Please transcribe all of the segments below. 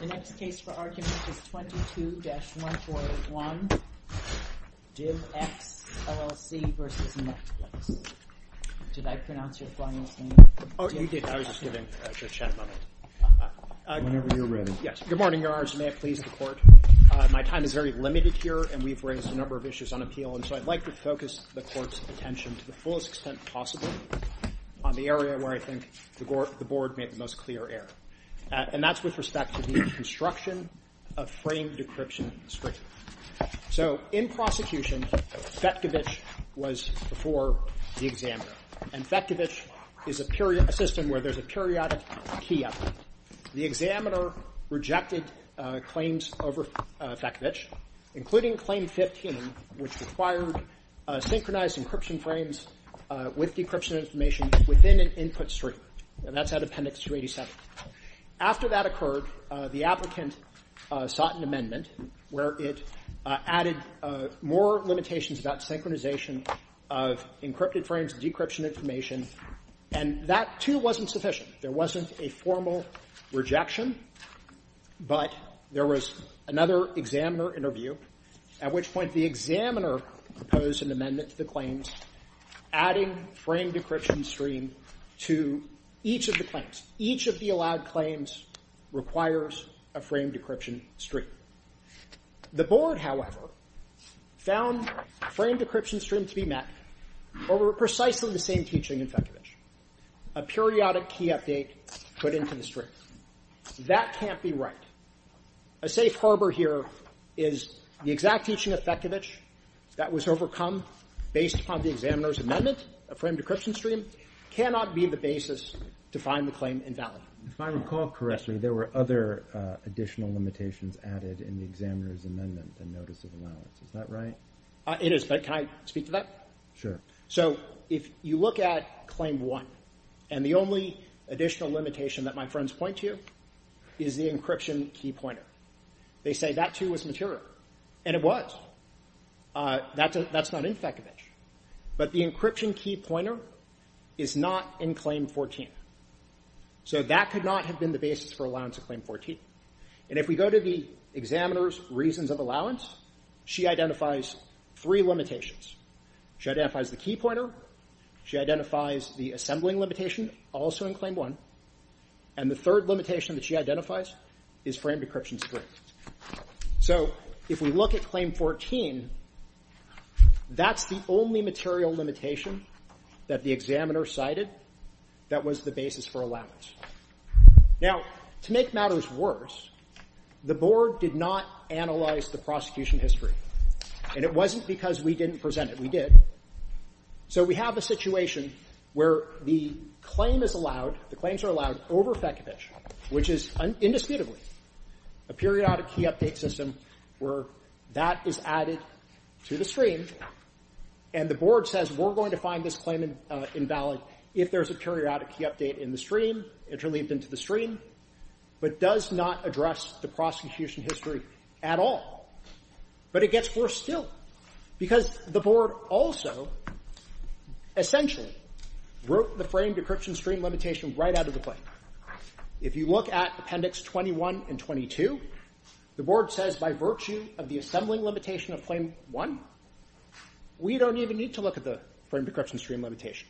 The next case for argument is 22-141, DivX, LLC v. Netflix. Did I pronounce your client's name? Oh, you did. I was just giving a chat moment. Whenever you're ready. Yes. Good morning, Your Honors. May it please the Court. My time is very limited here, and we've raised a number of issues on appeal, and so I'd like to focus the Court's attention to the fullest extent possible on the area where I think the Board made the most clear error. And that's with respect to the construction of framed decryption script. So in prosecution, Fetkevich was before the examiner, and Fetkevich is a system where there's a periodic key update. The examiner rejected claims over Fetkevich, including Claim 15, which required synchronized encryption frames with decryption information within an input stream, and that's out of Appendix 287. After that occurred, the applicant sought an amendment where it added more limitations about synchronization of encrypted frames and decryption information, and that, too, wasn't sufficient. There wasn't a formal rejection, but there was another examiner interview, at which point the examiner proposed an amendment to the claims, adding framed decryption stream to each of the claims. Each of the allowed claims requires a framed decryption stream. The Board, however, found framed decryption stream to be met over precisely the same teaching in Fetkevich, a periodic key update put into the stream. That can't be right. A safe harbor here is the exact teaching of Fetkevich that was overcome based upon the examiner's amendment. A framed decryption stream cannot be the basis to find the claim invalid. If I recall correctly, there were other additional limitations added in the examiner's amendment and notice of allowance. Is that right? It is, but can I speak to that? Sure. So if you look at Claim 1, and the only additional limitation that my friends point to is the encryption key pointer. They say that, too, was material. And it was. That's not in Fetkevich. But the encryption key pointer is not in Claim 14. So that could not have been the basis for allowance in Claim 14. And if we go to the examiner's reasons of allowance, she identifies three limitations. She identifies the key pointer. She identifies the assembling limitation, also in Claim 1. And the third limitation that she identifies is framed decryption stream. So if we look at Claim 14, that's the only material limitation that the examiner cited that was the basis for allowance. Now, to make matters worse, the Board did not analyze the prosecution history, and it wasn't because we didn't present it. We did. So we have a situation where the claim is allowed, the claims are allowed over Fetkevich, which is indisputably a periodic key update system where that is added to the stream. And the Board says, we're going to find this claim invalid if there's a periodic key update in the stream, interleaved into the stream, but does not address the prosecution history at all. But it gets worse still. Because the Board also, essentially, wrote the framed decryption stream limitation right out of the claim. If you look at Appendix 21 and 22, the Board says, by virtue of the assembling limitation of Claim 1, we don't even need to look at the framed decryption stream limitation.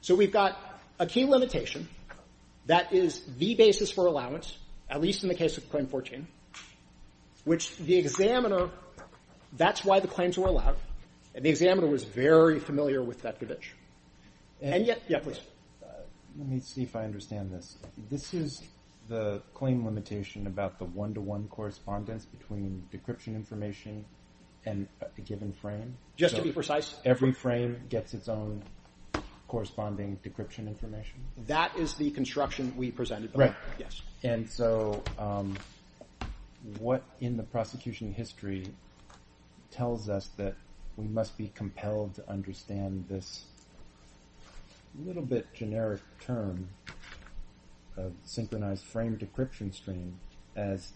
So we've got a key limitation that is the basis for allowance, at least in the case of Claim 14, which the examiner, that's why the claims were allowed, and the examiner was very familiar with Fetkevich. And yet, yeah, please. Let me see if I understand this. This is the claim limitation about the one-to-one correspondence between decryption information and a given frame? Just to be precise. Every frame gets its own corresponding decryption information? That is the construction we presented. Right. Yes. And so what in the prosecution history tells us that we must be compelled to understand this little bit generic term of synchronized framed decryption stream as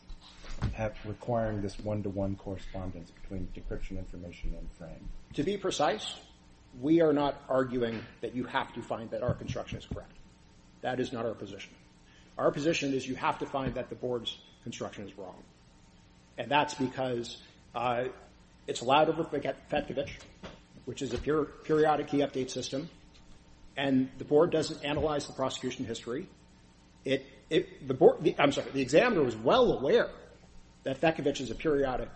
perhaps requiring this one-to-one correspondence between decryption information and frame? To be precise, we are not arguing that you have to find that our construction is correct. That is not our position. Our position is you have to find that the board's construction is wrong. And that's because it's allowed over Fetkevich, which is a periodic key update system, and the board doesn't analyze the prosecution history. The board, I'm sorry, the examiner was well aware that Fetkevich is a periodic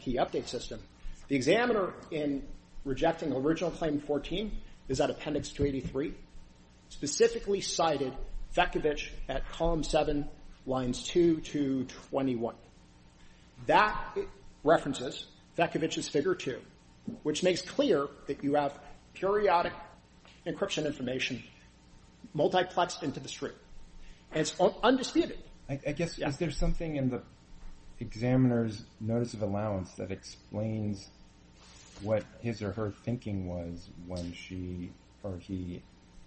key update system. The examiner, in rejecting original Claim 14, is at Appendix 283, specifically cited Fetkevich at Column 7, Lines 2 to 21. That references Fetkevich's Figure 2, which makes clear that you have periodic encryption information multiplexed into the stream. And it's undisputed. I guess is there something in the examiner's notice of allowance that explains what his or her thinking was when she or he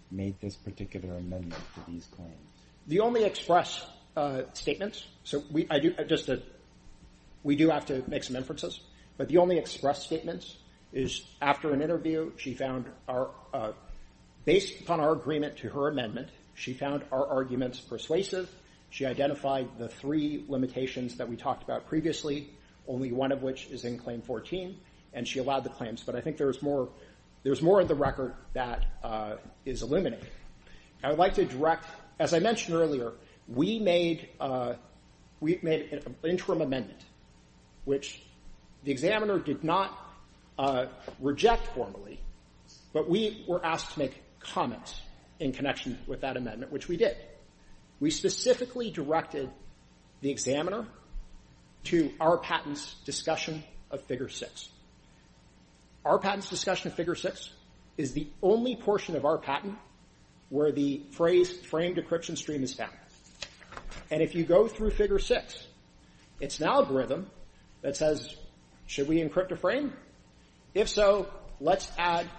made this particular amendment to these claims? The only express statements, so we do have to make some inferences, but the only express statements is after an interview, she found based on our agreement to her amendment, she found our arguments persuasive. She identified the three limitations that we talked about previously, only one of which is in Claim 14, and she allowed the claims. But I think there's more of the record that is illuminated. I would like to direct, as I mentioned earlier, we made an interim amendment, which the examiner did not reject formally, but we were asked to make comments in connection with that amendment, which we did. We specifically directed the examiner to our patent's discussion of Figure 6. Our patent's discussion of Figure 6 is the only portion of our patent where the phrase framed encryption stream is found. And if you go through Figure 6, it's an algorithm that says, should we encrypt a frame? If so, let's add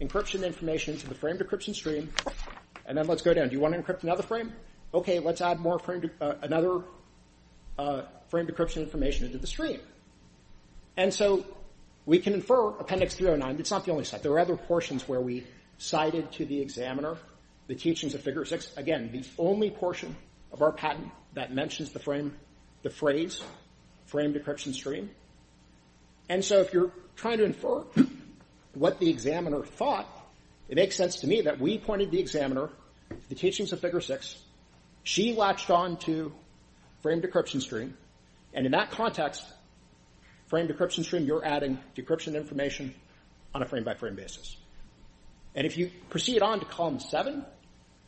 encryption information to the framed encryption stream, and then let's go down. Do you want to encrypt another frame? Okay, let's add another framed encryption information into the stream. And so we can infer Appendix 309. It's not the only site. There are other portions where we cited to the examiner the teachings of Figure 6. Again, the only portion of our patent that mentions the frame, the phrase framed encryption stream. And so if you're trying to infer what the examiner thought, it makes sense to me that we pointed to the examiner, the teachings of Figure 6, she latched on to framed encryption stream, and in that context, framed encryption stream, you're adding decryption information on a frame-by-frame basis. And if you proceed on to Column 7,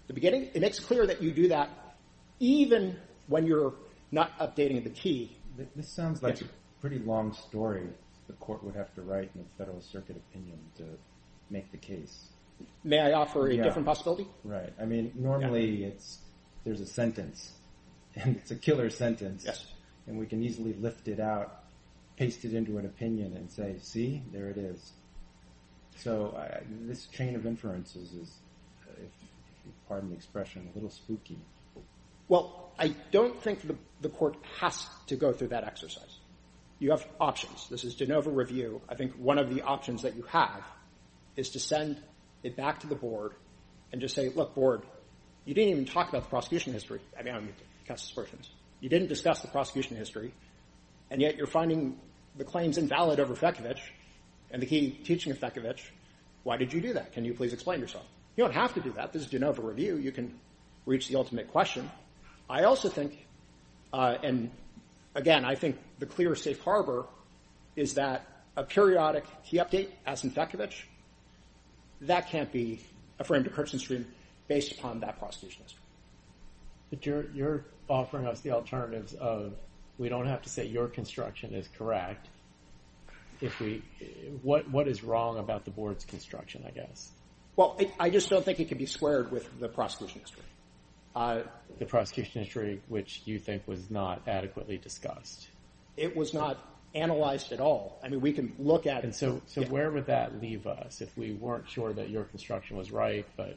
the beginning, it makes clear that you do that even when you're not updating the key. This sounds like a pretty long story the court would have to write in a Federal Circuit opinion to make the case. May I offer a different possibility? Right. I mean, normally there's a sentence, and it's a killer sentence, and we can easily lift it out, paste it into an opinion and say, see, there it is. So this chain of inferences is, pardon the expression, a little spooky. Well, I don't think the court has to go through that exercise. You have options. This is de novo review. I think one of the options that you have is to send it back to the board and just say, look, board, you didn't even talk about the prosecution history. I mean, I don't mean to cast suspicions. You didn't discuss the prosecution history, and yet you're finding the claims invalid over Fekovic and the key teaching of Fekovic. Why did you do that? Can you please explain yourself? You don't have to do that. This is de novo review. You can reach the ultimate question. I also think, and again, I think the clear safe harbor is that a periodic key update as in Fekovic, that can't be a frame-to-curtain stream based upon that prosecution history. But you're offering us the alternatives of, we don't have to say your construction is correct. What is wrong about the board's construction, I guess? Well, I just don't think it can be squared with the prosecution history. The prosecution history, which you think was not adequately discussed. It was not analyzed at all. I mean, we can look at it. And so where would that leave us if we weren't sure that your construction was right, but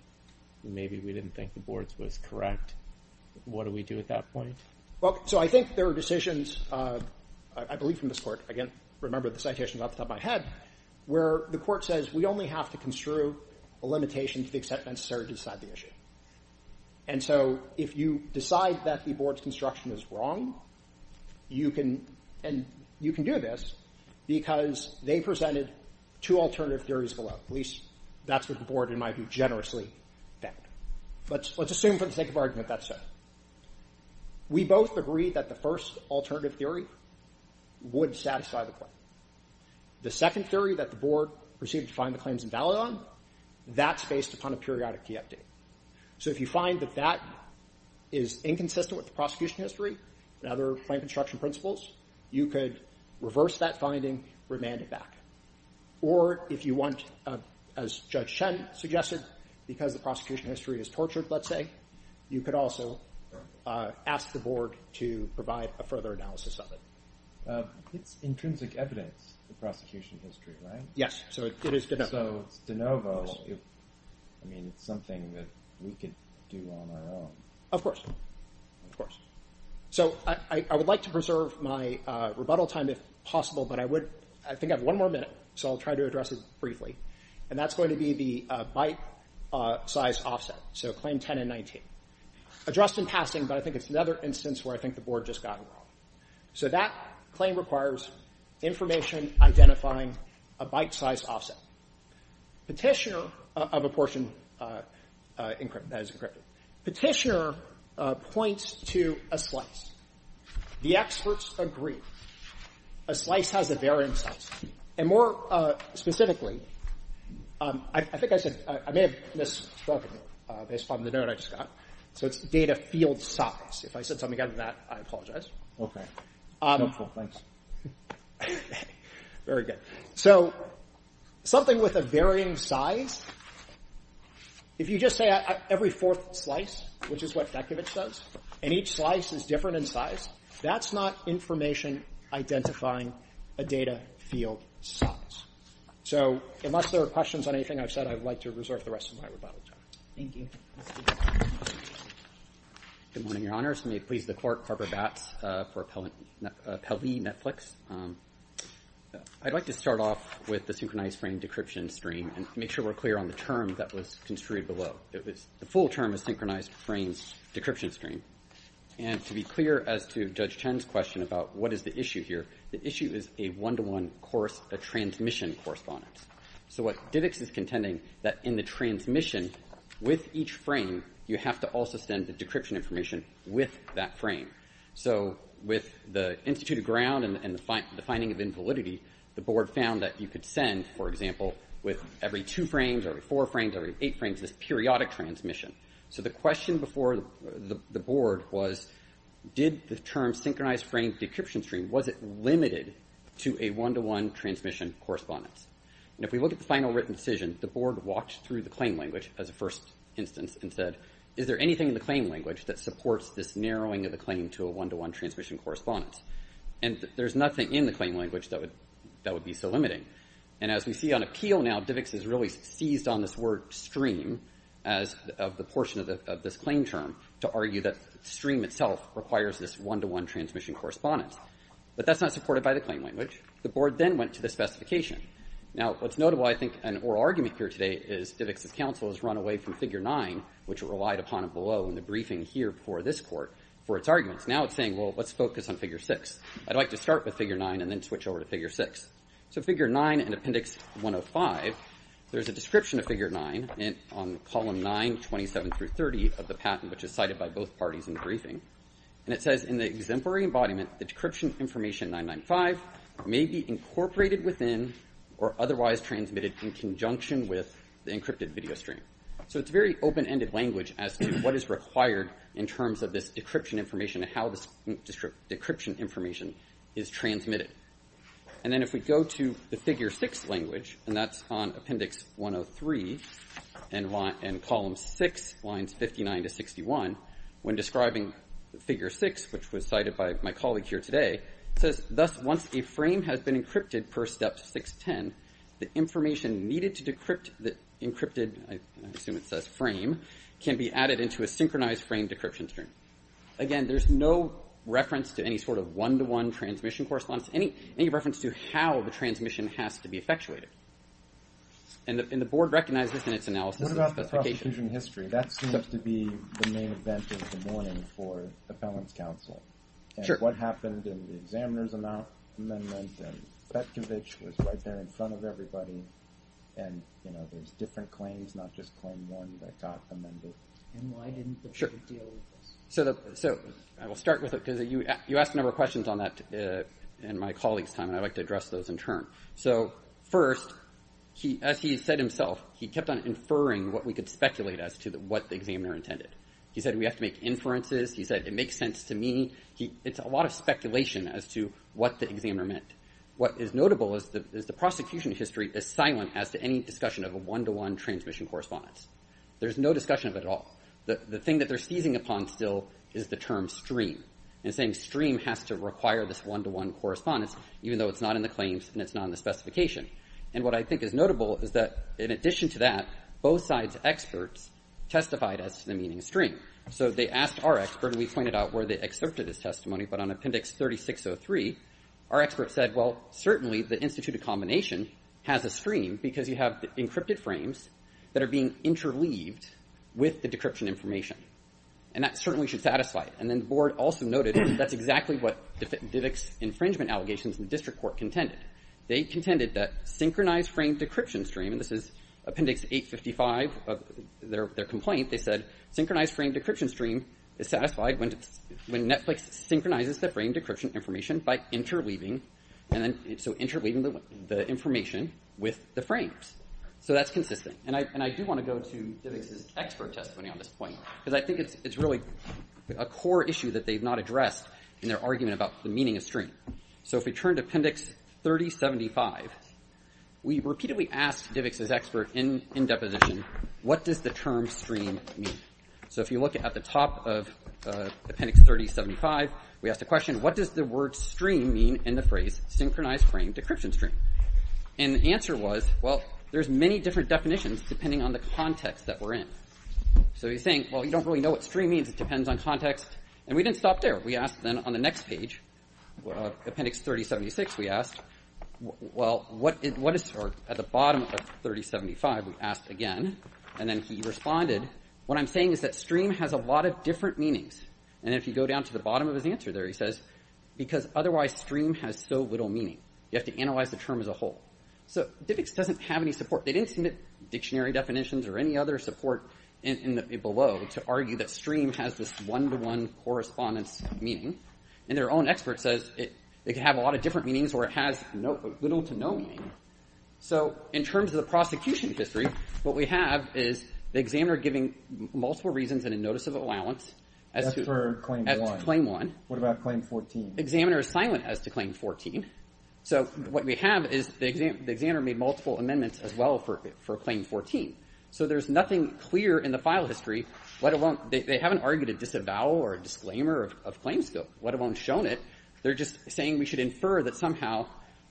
maybe we didn't think the board's was correct? What do we do at that point? Well, so I think there are decisions, I believe from this court, I can't remember the citation off the top of my head, where the court says, we only have to construe a limitation to the extent necessary to decide the issue. And so if you decide that the board's construction is wrong, you can, and you can do this because they presented two alternative theories below. At least that's what the board, in my view, generously found. Let's assume, for the sake of argument, that's so. We both agree that the first alternative theory would satisfy the claim. The second theory that the board proceeded to find the claims invalid on, that's based upon a periodic key update. So if you find that that is inconsistent with the prosecution history and other claim construction principles, you could reverse that finding, remand it back. Or if you want, as Judge Chen suggested, because the prosecution history is tortured, let's say, you could also ask the board to provide a further analysis of it. It's intrinsic evidence, the prosecution history, right? Yes. So it is de novo. So it's de novo. I mean, it's something that we could do on our own. Of course. Of course. So I would like to preserve my rebuttal time if possible, but I think I have one more minute, so I'll try to address it briefly. And that's going to be the bite-size offset. So claim 10 and 19. Addressed in passing, but I think it's another instance where I think the board just got it wrong. So that claim requires information identifying a bite-size offset. Petitioner of a portion that is encrypted. Petitioner points to a slice. The experts agree. A slice has a varying size. And more specifically, I think I said... I may have misspoken based on the note I just got. So it's data field size. If I said something other than that, I apologize. Okay. Helpful. Thanks. Very good. So something with a varying size, if you just say every fourth slice, which is what Dekovitch says, and each slice is different in size, that's not information identifying a data field size. So unless there are questions on anything I've said, I'd like to reserve the rest of my rebuttal time. Thank you. Good morning, Your Honors. May it please the Court. Harper Batts for Pelley Netflix. I'd like to start off with the synchronized frame decryption stream and make sure we're clear on the term that was construed below. The full term is synchronized frames decryption stream. And to be clear as to Judge Teng's question about what is the issue here, the issue is a one-to-one transmission correspondence. So what Divix is contending that in the transmission with each frame, you have to also send the decryption information with that frame. So with the Institute of Ground and the finding of invalidity, the Board found that you could send, for example, with every two frames, every four frames, every eight frames, this periodic transmission. So the question before the Board was, did the term synchronized frame decryption stream, was it limited to a one-to-one transmission correspondence? And if we look at the final written decision, the Board walked through the claim language as a first instance and said, is there anything in the claim language that supports this narrowing of the claim to a one-to-one transmission correspondence? And there's nothing in the claim language that would be so limiting. And as we see on appeal now, Divix has really seized on this word stream as of the portion of this claim term to argue that stream itself requires this one-to-one transmission correspondence. But that's not supported by the claim language. The Board then went to the specification. Now, what's notable, I think, an oral argument here today is Divix's counsel has run away from Figure 9, which relied upon below in the briefing here before this court for its arguments. Now it's saying, well, let's focus on Figure 6. I'd like to start with Figure 9 and then switch over to Figure 6. So Figure 9 in Appendix 105, there's a description of Figure 9 on Column 9, 27 through 30 of the patent, which is cited by both parties in the briefing. And it says, in the exemplary embodiment, the decryption information 995 may be incorporated within or otherwise transmitted in conjunction with the encrypted video stream. So it's very open-ended language as to what is required in terms of this decryption information and how this decryption information is transmitted. And then if we go to the Figure 6 language, and that's on Appendix 103 and Column 6, Lines 59 to 61, when describing Figure 6, which was cited by my colleague here today, it says, thus, once a frame has been encrypted per Step 610, the information needed to decrypt the encrypted... I assume it says frame... can be added into a synchronized frame decryption stream. Again, there's no reference to any sort of one-to-one transmission correspondence, any reference to how the transmission has to be effectuated. And the board recognizes in its analysis... What about the prosecution history? That seems to be the main event of the morning for Appellant's counsel. Sure. And what happened in the examiner's amendment and Petkovich was right there in front of everybody, and, you know, there's different claims, not just claim one that got amended. And why didn't the board deal with this? So I will start with it, because you asked a number of questions on that in my colleague's time, and I'd like to address those in turn. So first, as he said himself, he kept on inferring what we could speculate as to what the examiner intended. He said, we have to make inferences. He said, it makes sense to me. It's a lot of speculation as to what the examiner meant. What is notable is the prosecution history is silent as to any discussion of a one-to-one transmission correspondence. There's no discussion of it at all. The thing that they're seizing upon still is the term stream, and saying stream has to require this one-to-one correspondence, even though it's not in the claims and it's not in the specification. And what I think is notable is that, in addition to that, both sides' experts testified as to the meaning of stream. So they asked our expert, and we pointed out where they accepted his testimony, but on Appendix 3603, our expert said, well, certainly the instituted combination has a stream because you have encrypted frames that are being interleaved with the decryption information, and that certainly should satisfy it. And then the board also noted that's exactly what Divick's infringement allegations in the district court contended. They contended that synchronized frame decryption stream, and this is Appendix 855, their complaint, they said, synchronized frame decryption stream is satisfied when Netflix synchronizes the frame decryption information by interleaving, so interleaving the information with the frames. So that's consistent. And I do want to go to Divick's expert testimony on this point, because I think it's really a core issue that they've not addressed in their argument about the meaning of stream. So if we turn to Appendix 3075, we repeatedly asked Divick's expert in deposition, what does the term stream mean? So if you look at the top of Appendix 3075, we asked a question, what does the word stream mean in the phrase synchronized frame decryption stream? And the answer was, well, there's many different definitions depending on the context that we're in. So he's saying, well, you don't really know what stream means, it depends on context, and we didn't stop there. We asked then on the next page, Appendix 3076, we asked, well, what is at the bottom of 3075, we asked again, and then he responded, what I'm saying is that stream has a lot of different meanings. And if you go down to the bottom of his answer there, he says, because otherwise stream has so little meaning. You have to analyze the term as a whole. So Divick's doesn't have any support. They didn't submit dictionary definitions or any other support below to argue that stream has this one-to-one correspondence meaning. And their own expert says it can have a lot of different meanings or it has little to no meaning. So in terms of the prosecution history, what we have is the examiner giving multiple reasons and a notice of allowance. To claim one. What about claim 14? The examiner is silent as to claim 14. So what we have is the examiner made multiple amendments as well for claim 14. So there's nothing clear in the file history, let alone, they haven't argued a disavow or disclaimer of claim scope, let alone shown it. They're just saying we should infer that somehow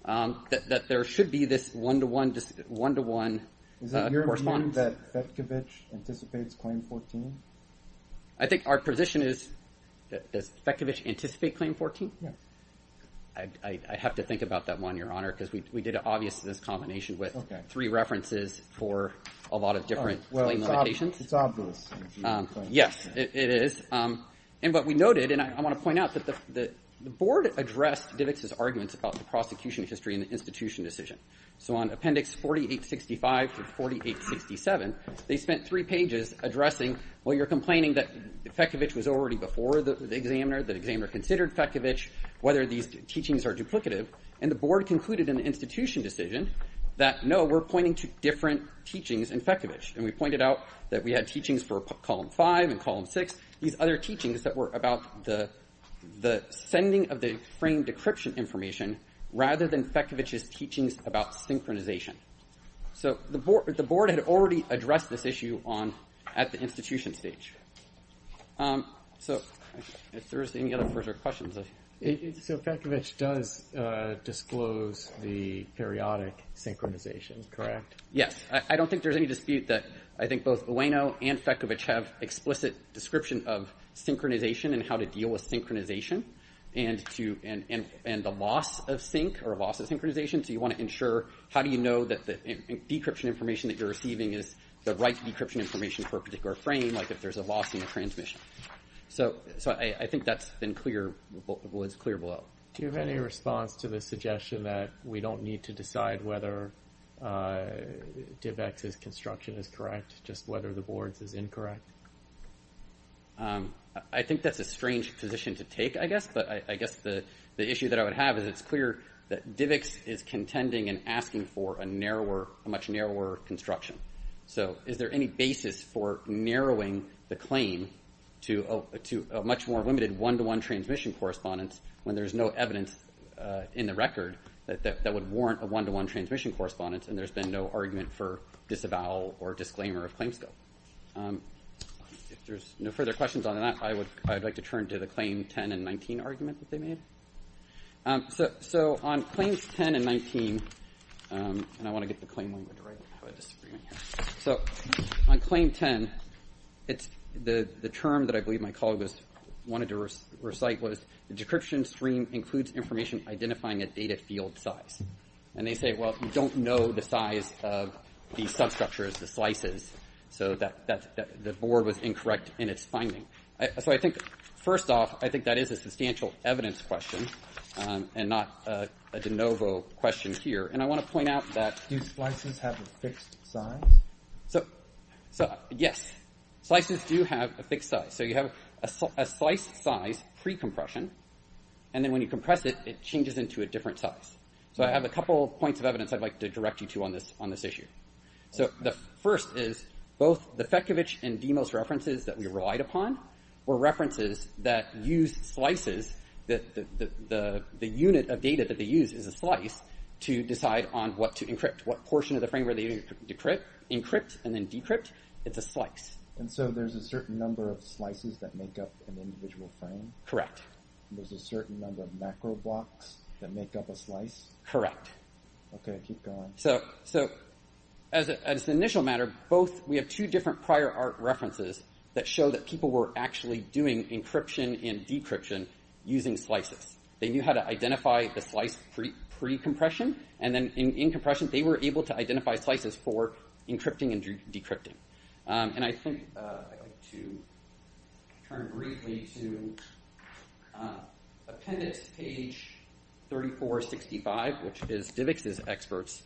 that there should be this one-to-one correspondence. Is it your opinion that Fetkevich anticipates claim 14? I think our position is that does Fetkevich anticipate claim 14? Yeah. I have to think about that one, Your Honor, because we did an obvious combination with three references for a lot of different limitations. It's obvious. Yes, it is. And what we noted, and I want to point out that the board addressed Divick's arguments about the prosecution history and the institution decision. So on appendix 4865 to 4867, they spent three pages addressing, well, you're complaining that Fetkevich was already before the examiner, that examiner considered Fetkevich, whether these teachings are duplicative. And the board concluded in the institution decision that no, we're pointing to different teachings in Fetkevich. And we pointed out that we had teachings for column 5 and column 6, these other teachings that were about the sending of the framed decryption information rather than Fetkevich's teachings about synchronization. So the board had already addressed this issue at the institution stage. So if there's any other further questions. So Fetkevich does disclose the periodic synchronization, correct? Yes. I don't think there's any dispute that I think both Ueno and Fetkevich have explicit description of synchronization and how to deal with synchronization and the loss of sync or loss of synchronization. So you want to ensure, how do you know that the decryption information that you're receiving is the right decryption information for a particular frame, like if there's a loss in the transmission. So I think that's been clear, was clear below. Do you have any response to the suggestion that we don't need to decide whether DIVX's construction is correct, just whether the board's is incorrect? I think that's a strange position to take, I guess. But I guess the issue that I would have is it's clear that DIVX is contending and asking for a much narrower construction. So is there any basis for narrowing the claim to a much more limited one-to-one transmission correspondence when there's no evidence in the record that would warrant a one-to-one transmission correspondence and there's been no argument for disavowal or disclaimer of claims scope. If there's no further questions on that, I'd like to turn to the claim 10 and 19 argument that they made. So on claims 10 and 19, and I want to get the claim number directly, I have a disagreement here. So on claim 10, the term that I believe my colleague wanted to recite was, the decryption stream includes information identifying a data field size. And they say, well, you don't know the size of the substructures, the slices, so that the board was incorrect in its finding. So I think first off, I think that is a substantial evidence question and not a de novo question here. And I want to point out that... Do slices have a fixed size? Yes. Slices do have a fixed size. So you have a sliced size pre-compression and then when you compress it, it changes into a different size. So I have a couple points of evidence I'd like to direct you to on this issue. The first is, both the Fekovic and Demos references that we relied upon were references that used slices that the unit of data that they use is a slice to decide on what to encrypt. What portion of the frame where they encrypt and then decrypt, it's a slice. And so there's a certain number of slices that make up an individual frame? Correct. There's a certain number of macro blocks that make up a slice? Correct. Okay, keep going. So, as an initial matter, both, we have two different prior art references that show that people were actually doing encryption and using slices. They knew how to identify the slice pre-compression and then in compression, they were able to identify slices for encrypting and decrypting. And I think I'd like to turn briefly to appendix page 3465, which is DIVX's experts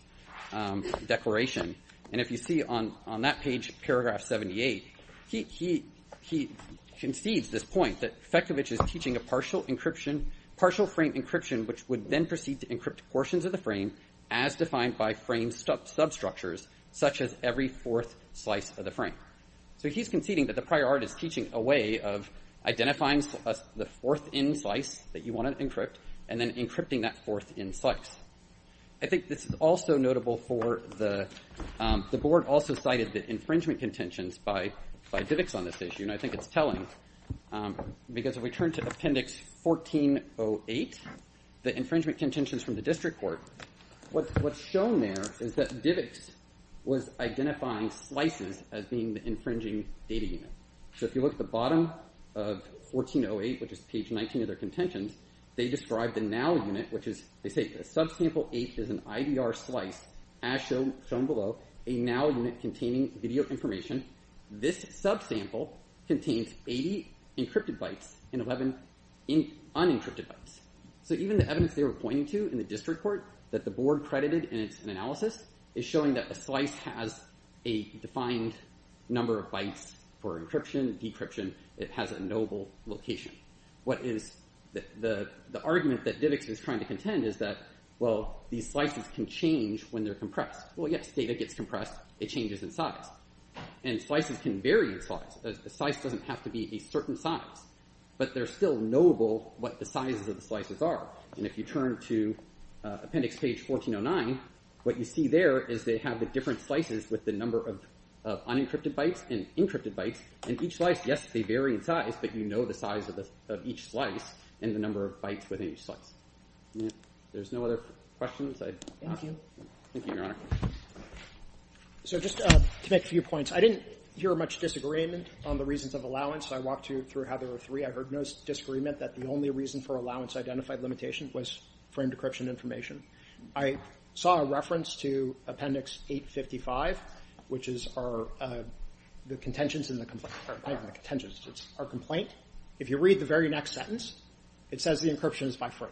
declaration. And if you see on that page, paragraph 78, he concedes this point that Fekovic is teaching a partial encryption, partial frame encryption, which would then proceed to encrypt portions of the frame as defined by frame substructures, such as every fourth slice of the frame. So he's conceding that the prior art is teaching a way of identifying the fourth in slice that you want to encrypt and then encrypting that fourth in slice. I think this is also notable for the board also cited the infringement contentions by DIVX on this issue and I think it's telling because if we turn to appendix 1408, the infringement contentions from the district court, what's shown there is that DIVX was identifying slices as being the infringing data unit. So if you look at the bottom of 1408, which is page 19 of their contentions, they describe the now unit, which is, they say, subsample 8 is an IDR slice as shown below, a now unit containing video information. This subsample contains 80 encrypted bytes and 11 unencrypted bytes. So even the evidence they were pointing to in the district court that the board credited in its analysis is showing that the slice has a defined number of bytes for encryption, decryption, it has a notable location. The argument that DIVX is trying to contend is that, well, these slices can change when they're compressed. Well, yes, data gets compressed, it changes in size. And slices can vary in size. A slice doesn't have to be a certain size. But they're still knowable what the sizes of the slices are. And if you turn to appendix page 1409, what you see there is they have the different slices with the number of unencrypted bytes and encrypted bytes in each slice. Yes, they vary in size, but you know the size of each slice and the number of bytes within each slice. There's no other questions? Thank you. Thank you, Your Honor. So just to make a few points. I didn't hear much disagreement on the reasons of allowance. I walked you through how there were three. I heard no disagreement that the only reason for allowance identified limitation was frame decryption information. I saw a reference to appendix 855, which is our the contentions in the complaint. It's our complaint. If you read the very next sentence, it says the encryption is by frame.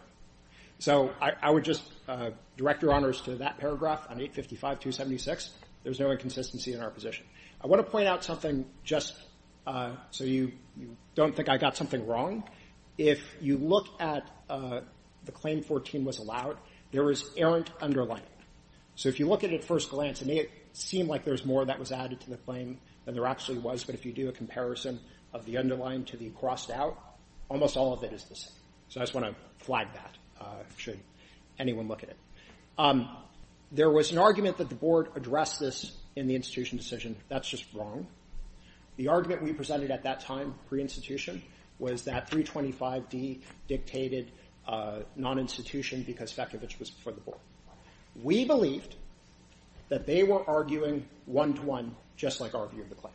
So I read that paragraph on 855-276. There's no inconsistency in our position. I want to point out something just so you don't think I got something wrong. If you look at the claim 14 was allowed, there is errant underline. So if you look at it at first glance, it may seem like there's more that was added to the claim than there actually was, but if you do a comparison of the underline to the crossed out, almost all of it is the same. So I just want to flag that should anyone look at it. There was an argument that the board addressed this in the institution decision. That's just wrong. The argument we presented at that time, pre-institution, was that 325D dictated non-institution because Fetkevich was before the board. We believed that they were arguing one to one, just like our view of the claim.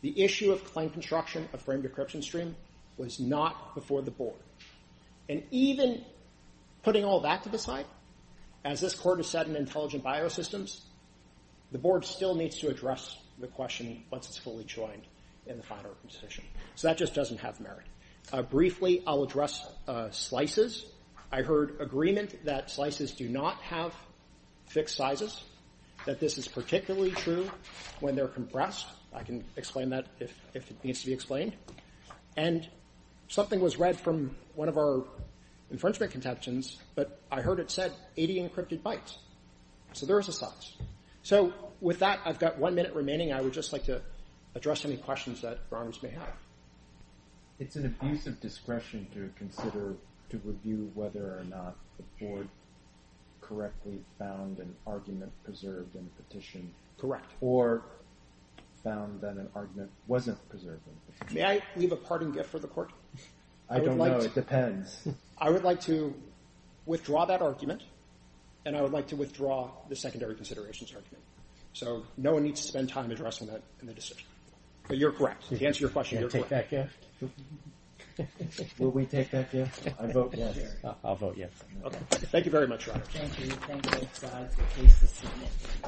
The issue of claim construction of frame decryption stream was not before the board. And even putting all that to the side, as this court has said in Intelligent Biosystems, the board still needs to address the question once it's fully joined in the final decision. So that just doesn't have merit. Briefly, I'll address slices. I heard agreement that slices do not have fixed sizes, that this is particularly true when they're compressed. I can explain that if it needs to be explained. And something was read from one of our infringement contentions, but I heard it said 80 encrypted bytes. So there is a slice. So with that, I've got one minute remaining. I would just like to address any questions that Your Honor may have. It's an abuse of discretion to consider to review whether or not the board correctly found an argument preserved in the petition. Correct. Or found that an argument wasn't preserved in the petition. May I leave a parting gift for the court? I don't know. It depends. I would like to withdraw that argument and I would like to withdraw the secondary considerations argument. So no one needs to spend time addressing that in the decision. But you're correct. To answer your question, you're correct. Will we take that gift? Thank you very much, Your Honor. Thank you.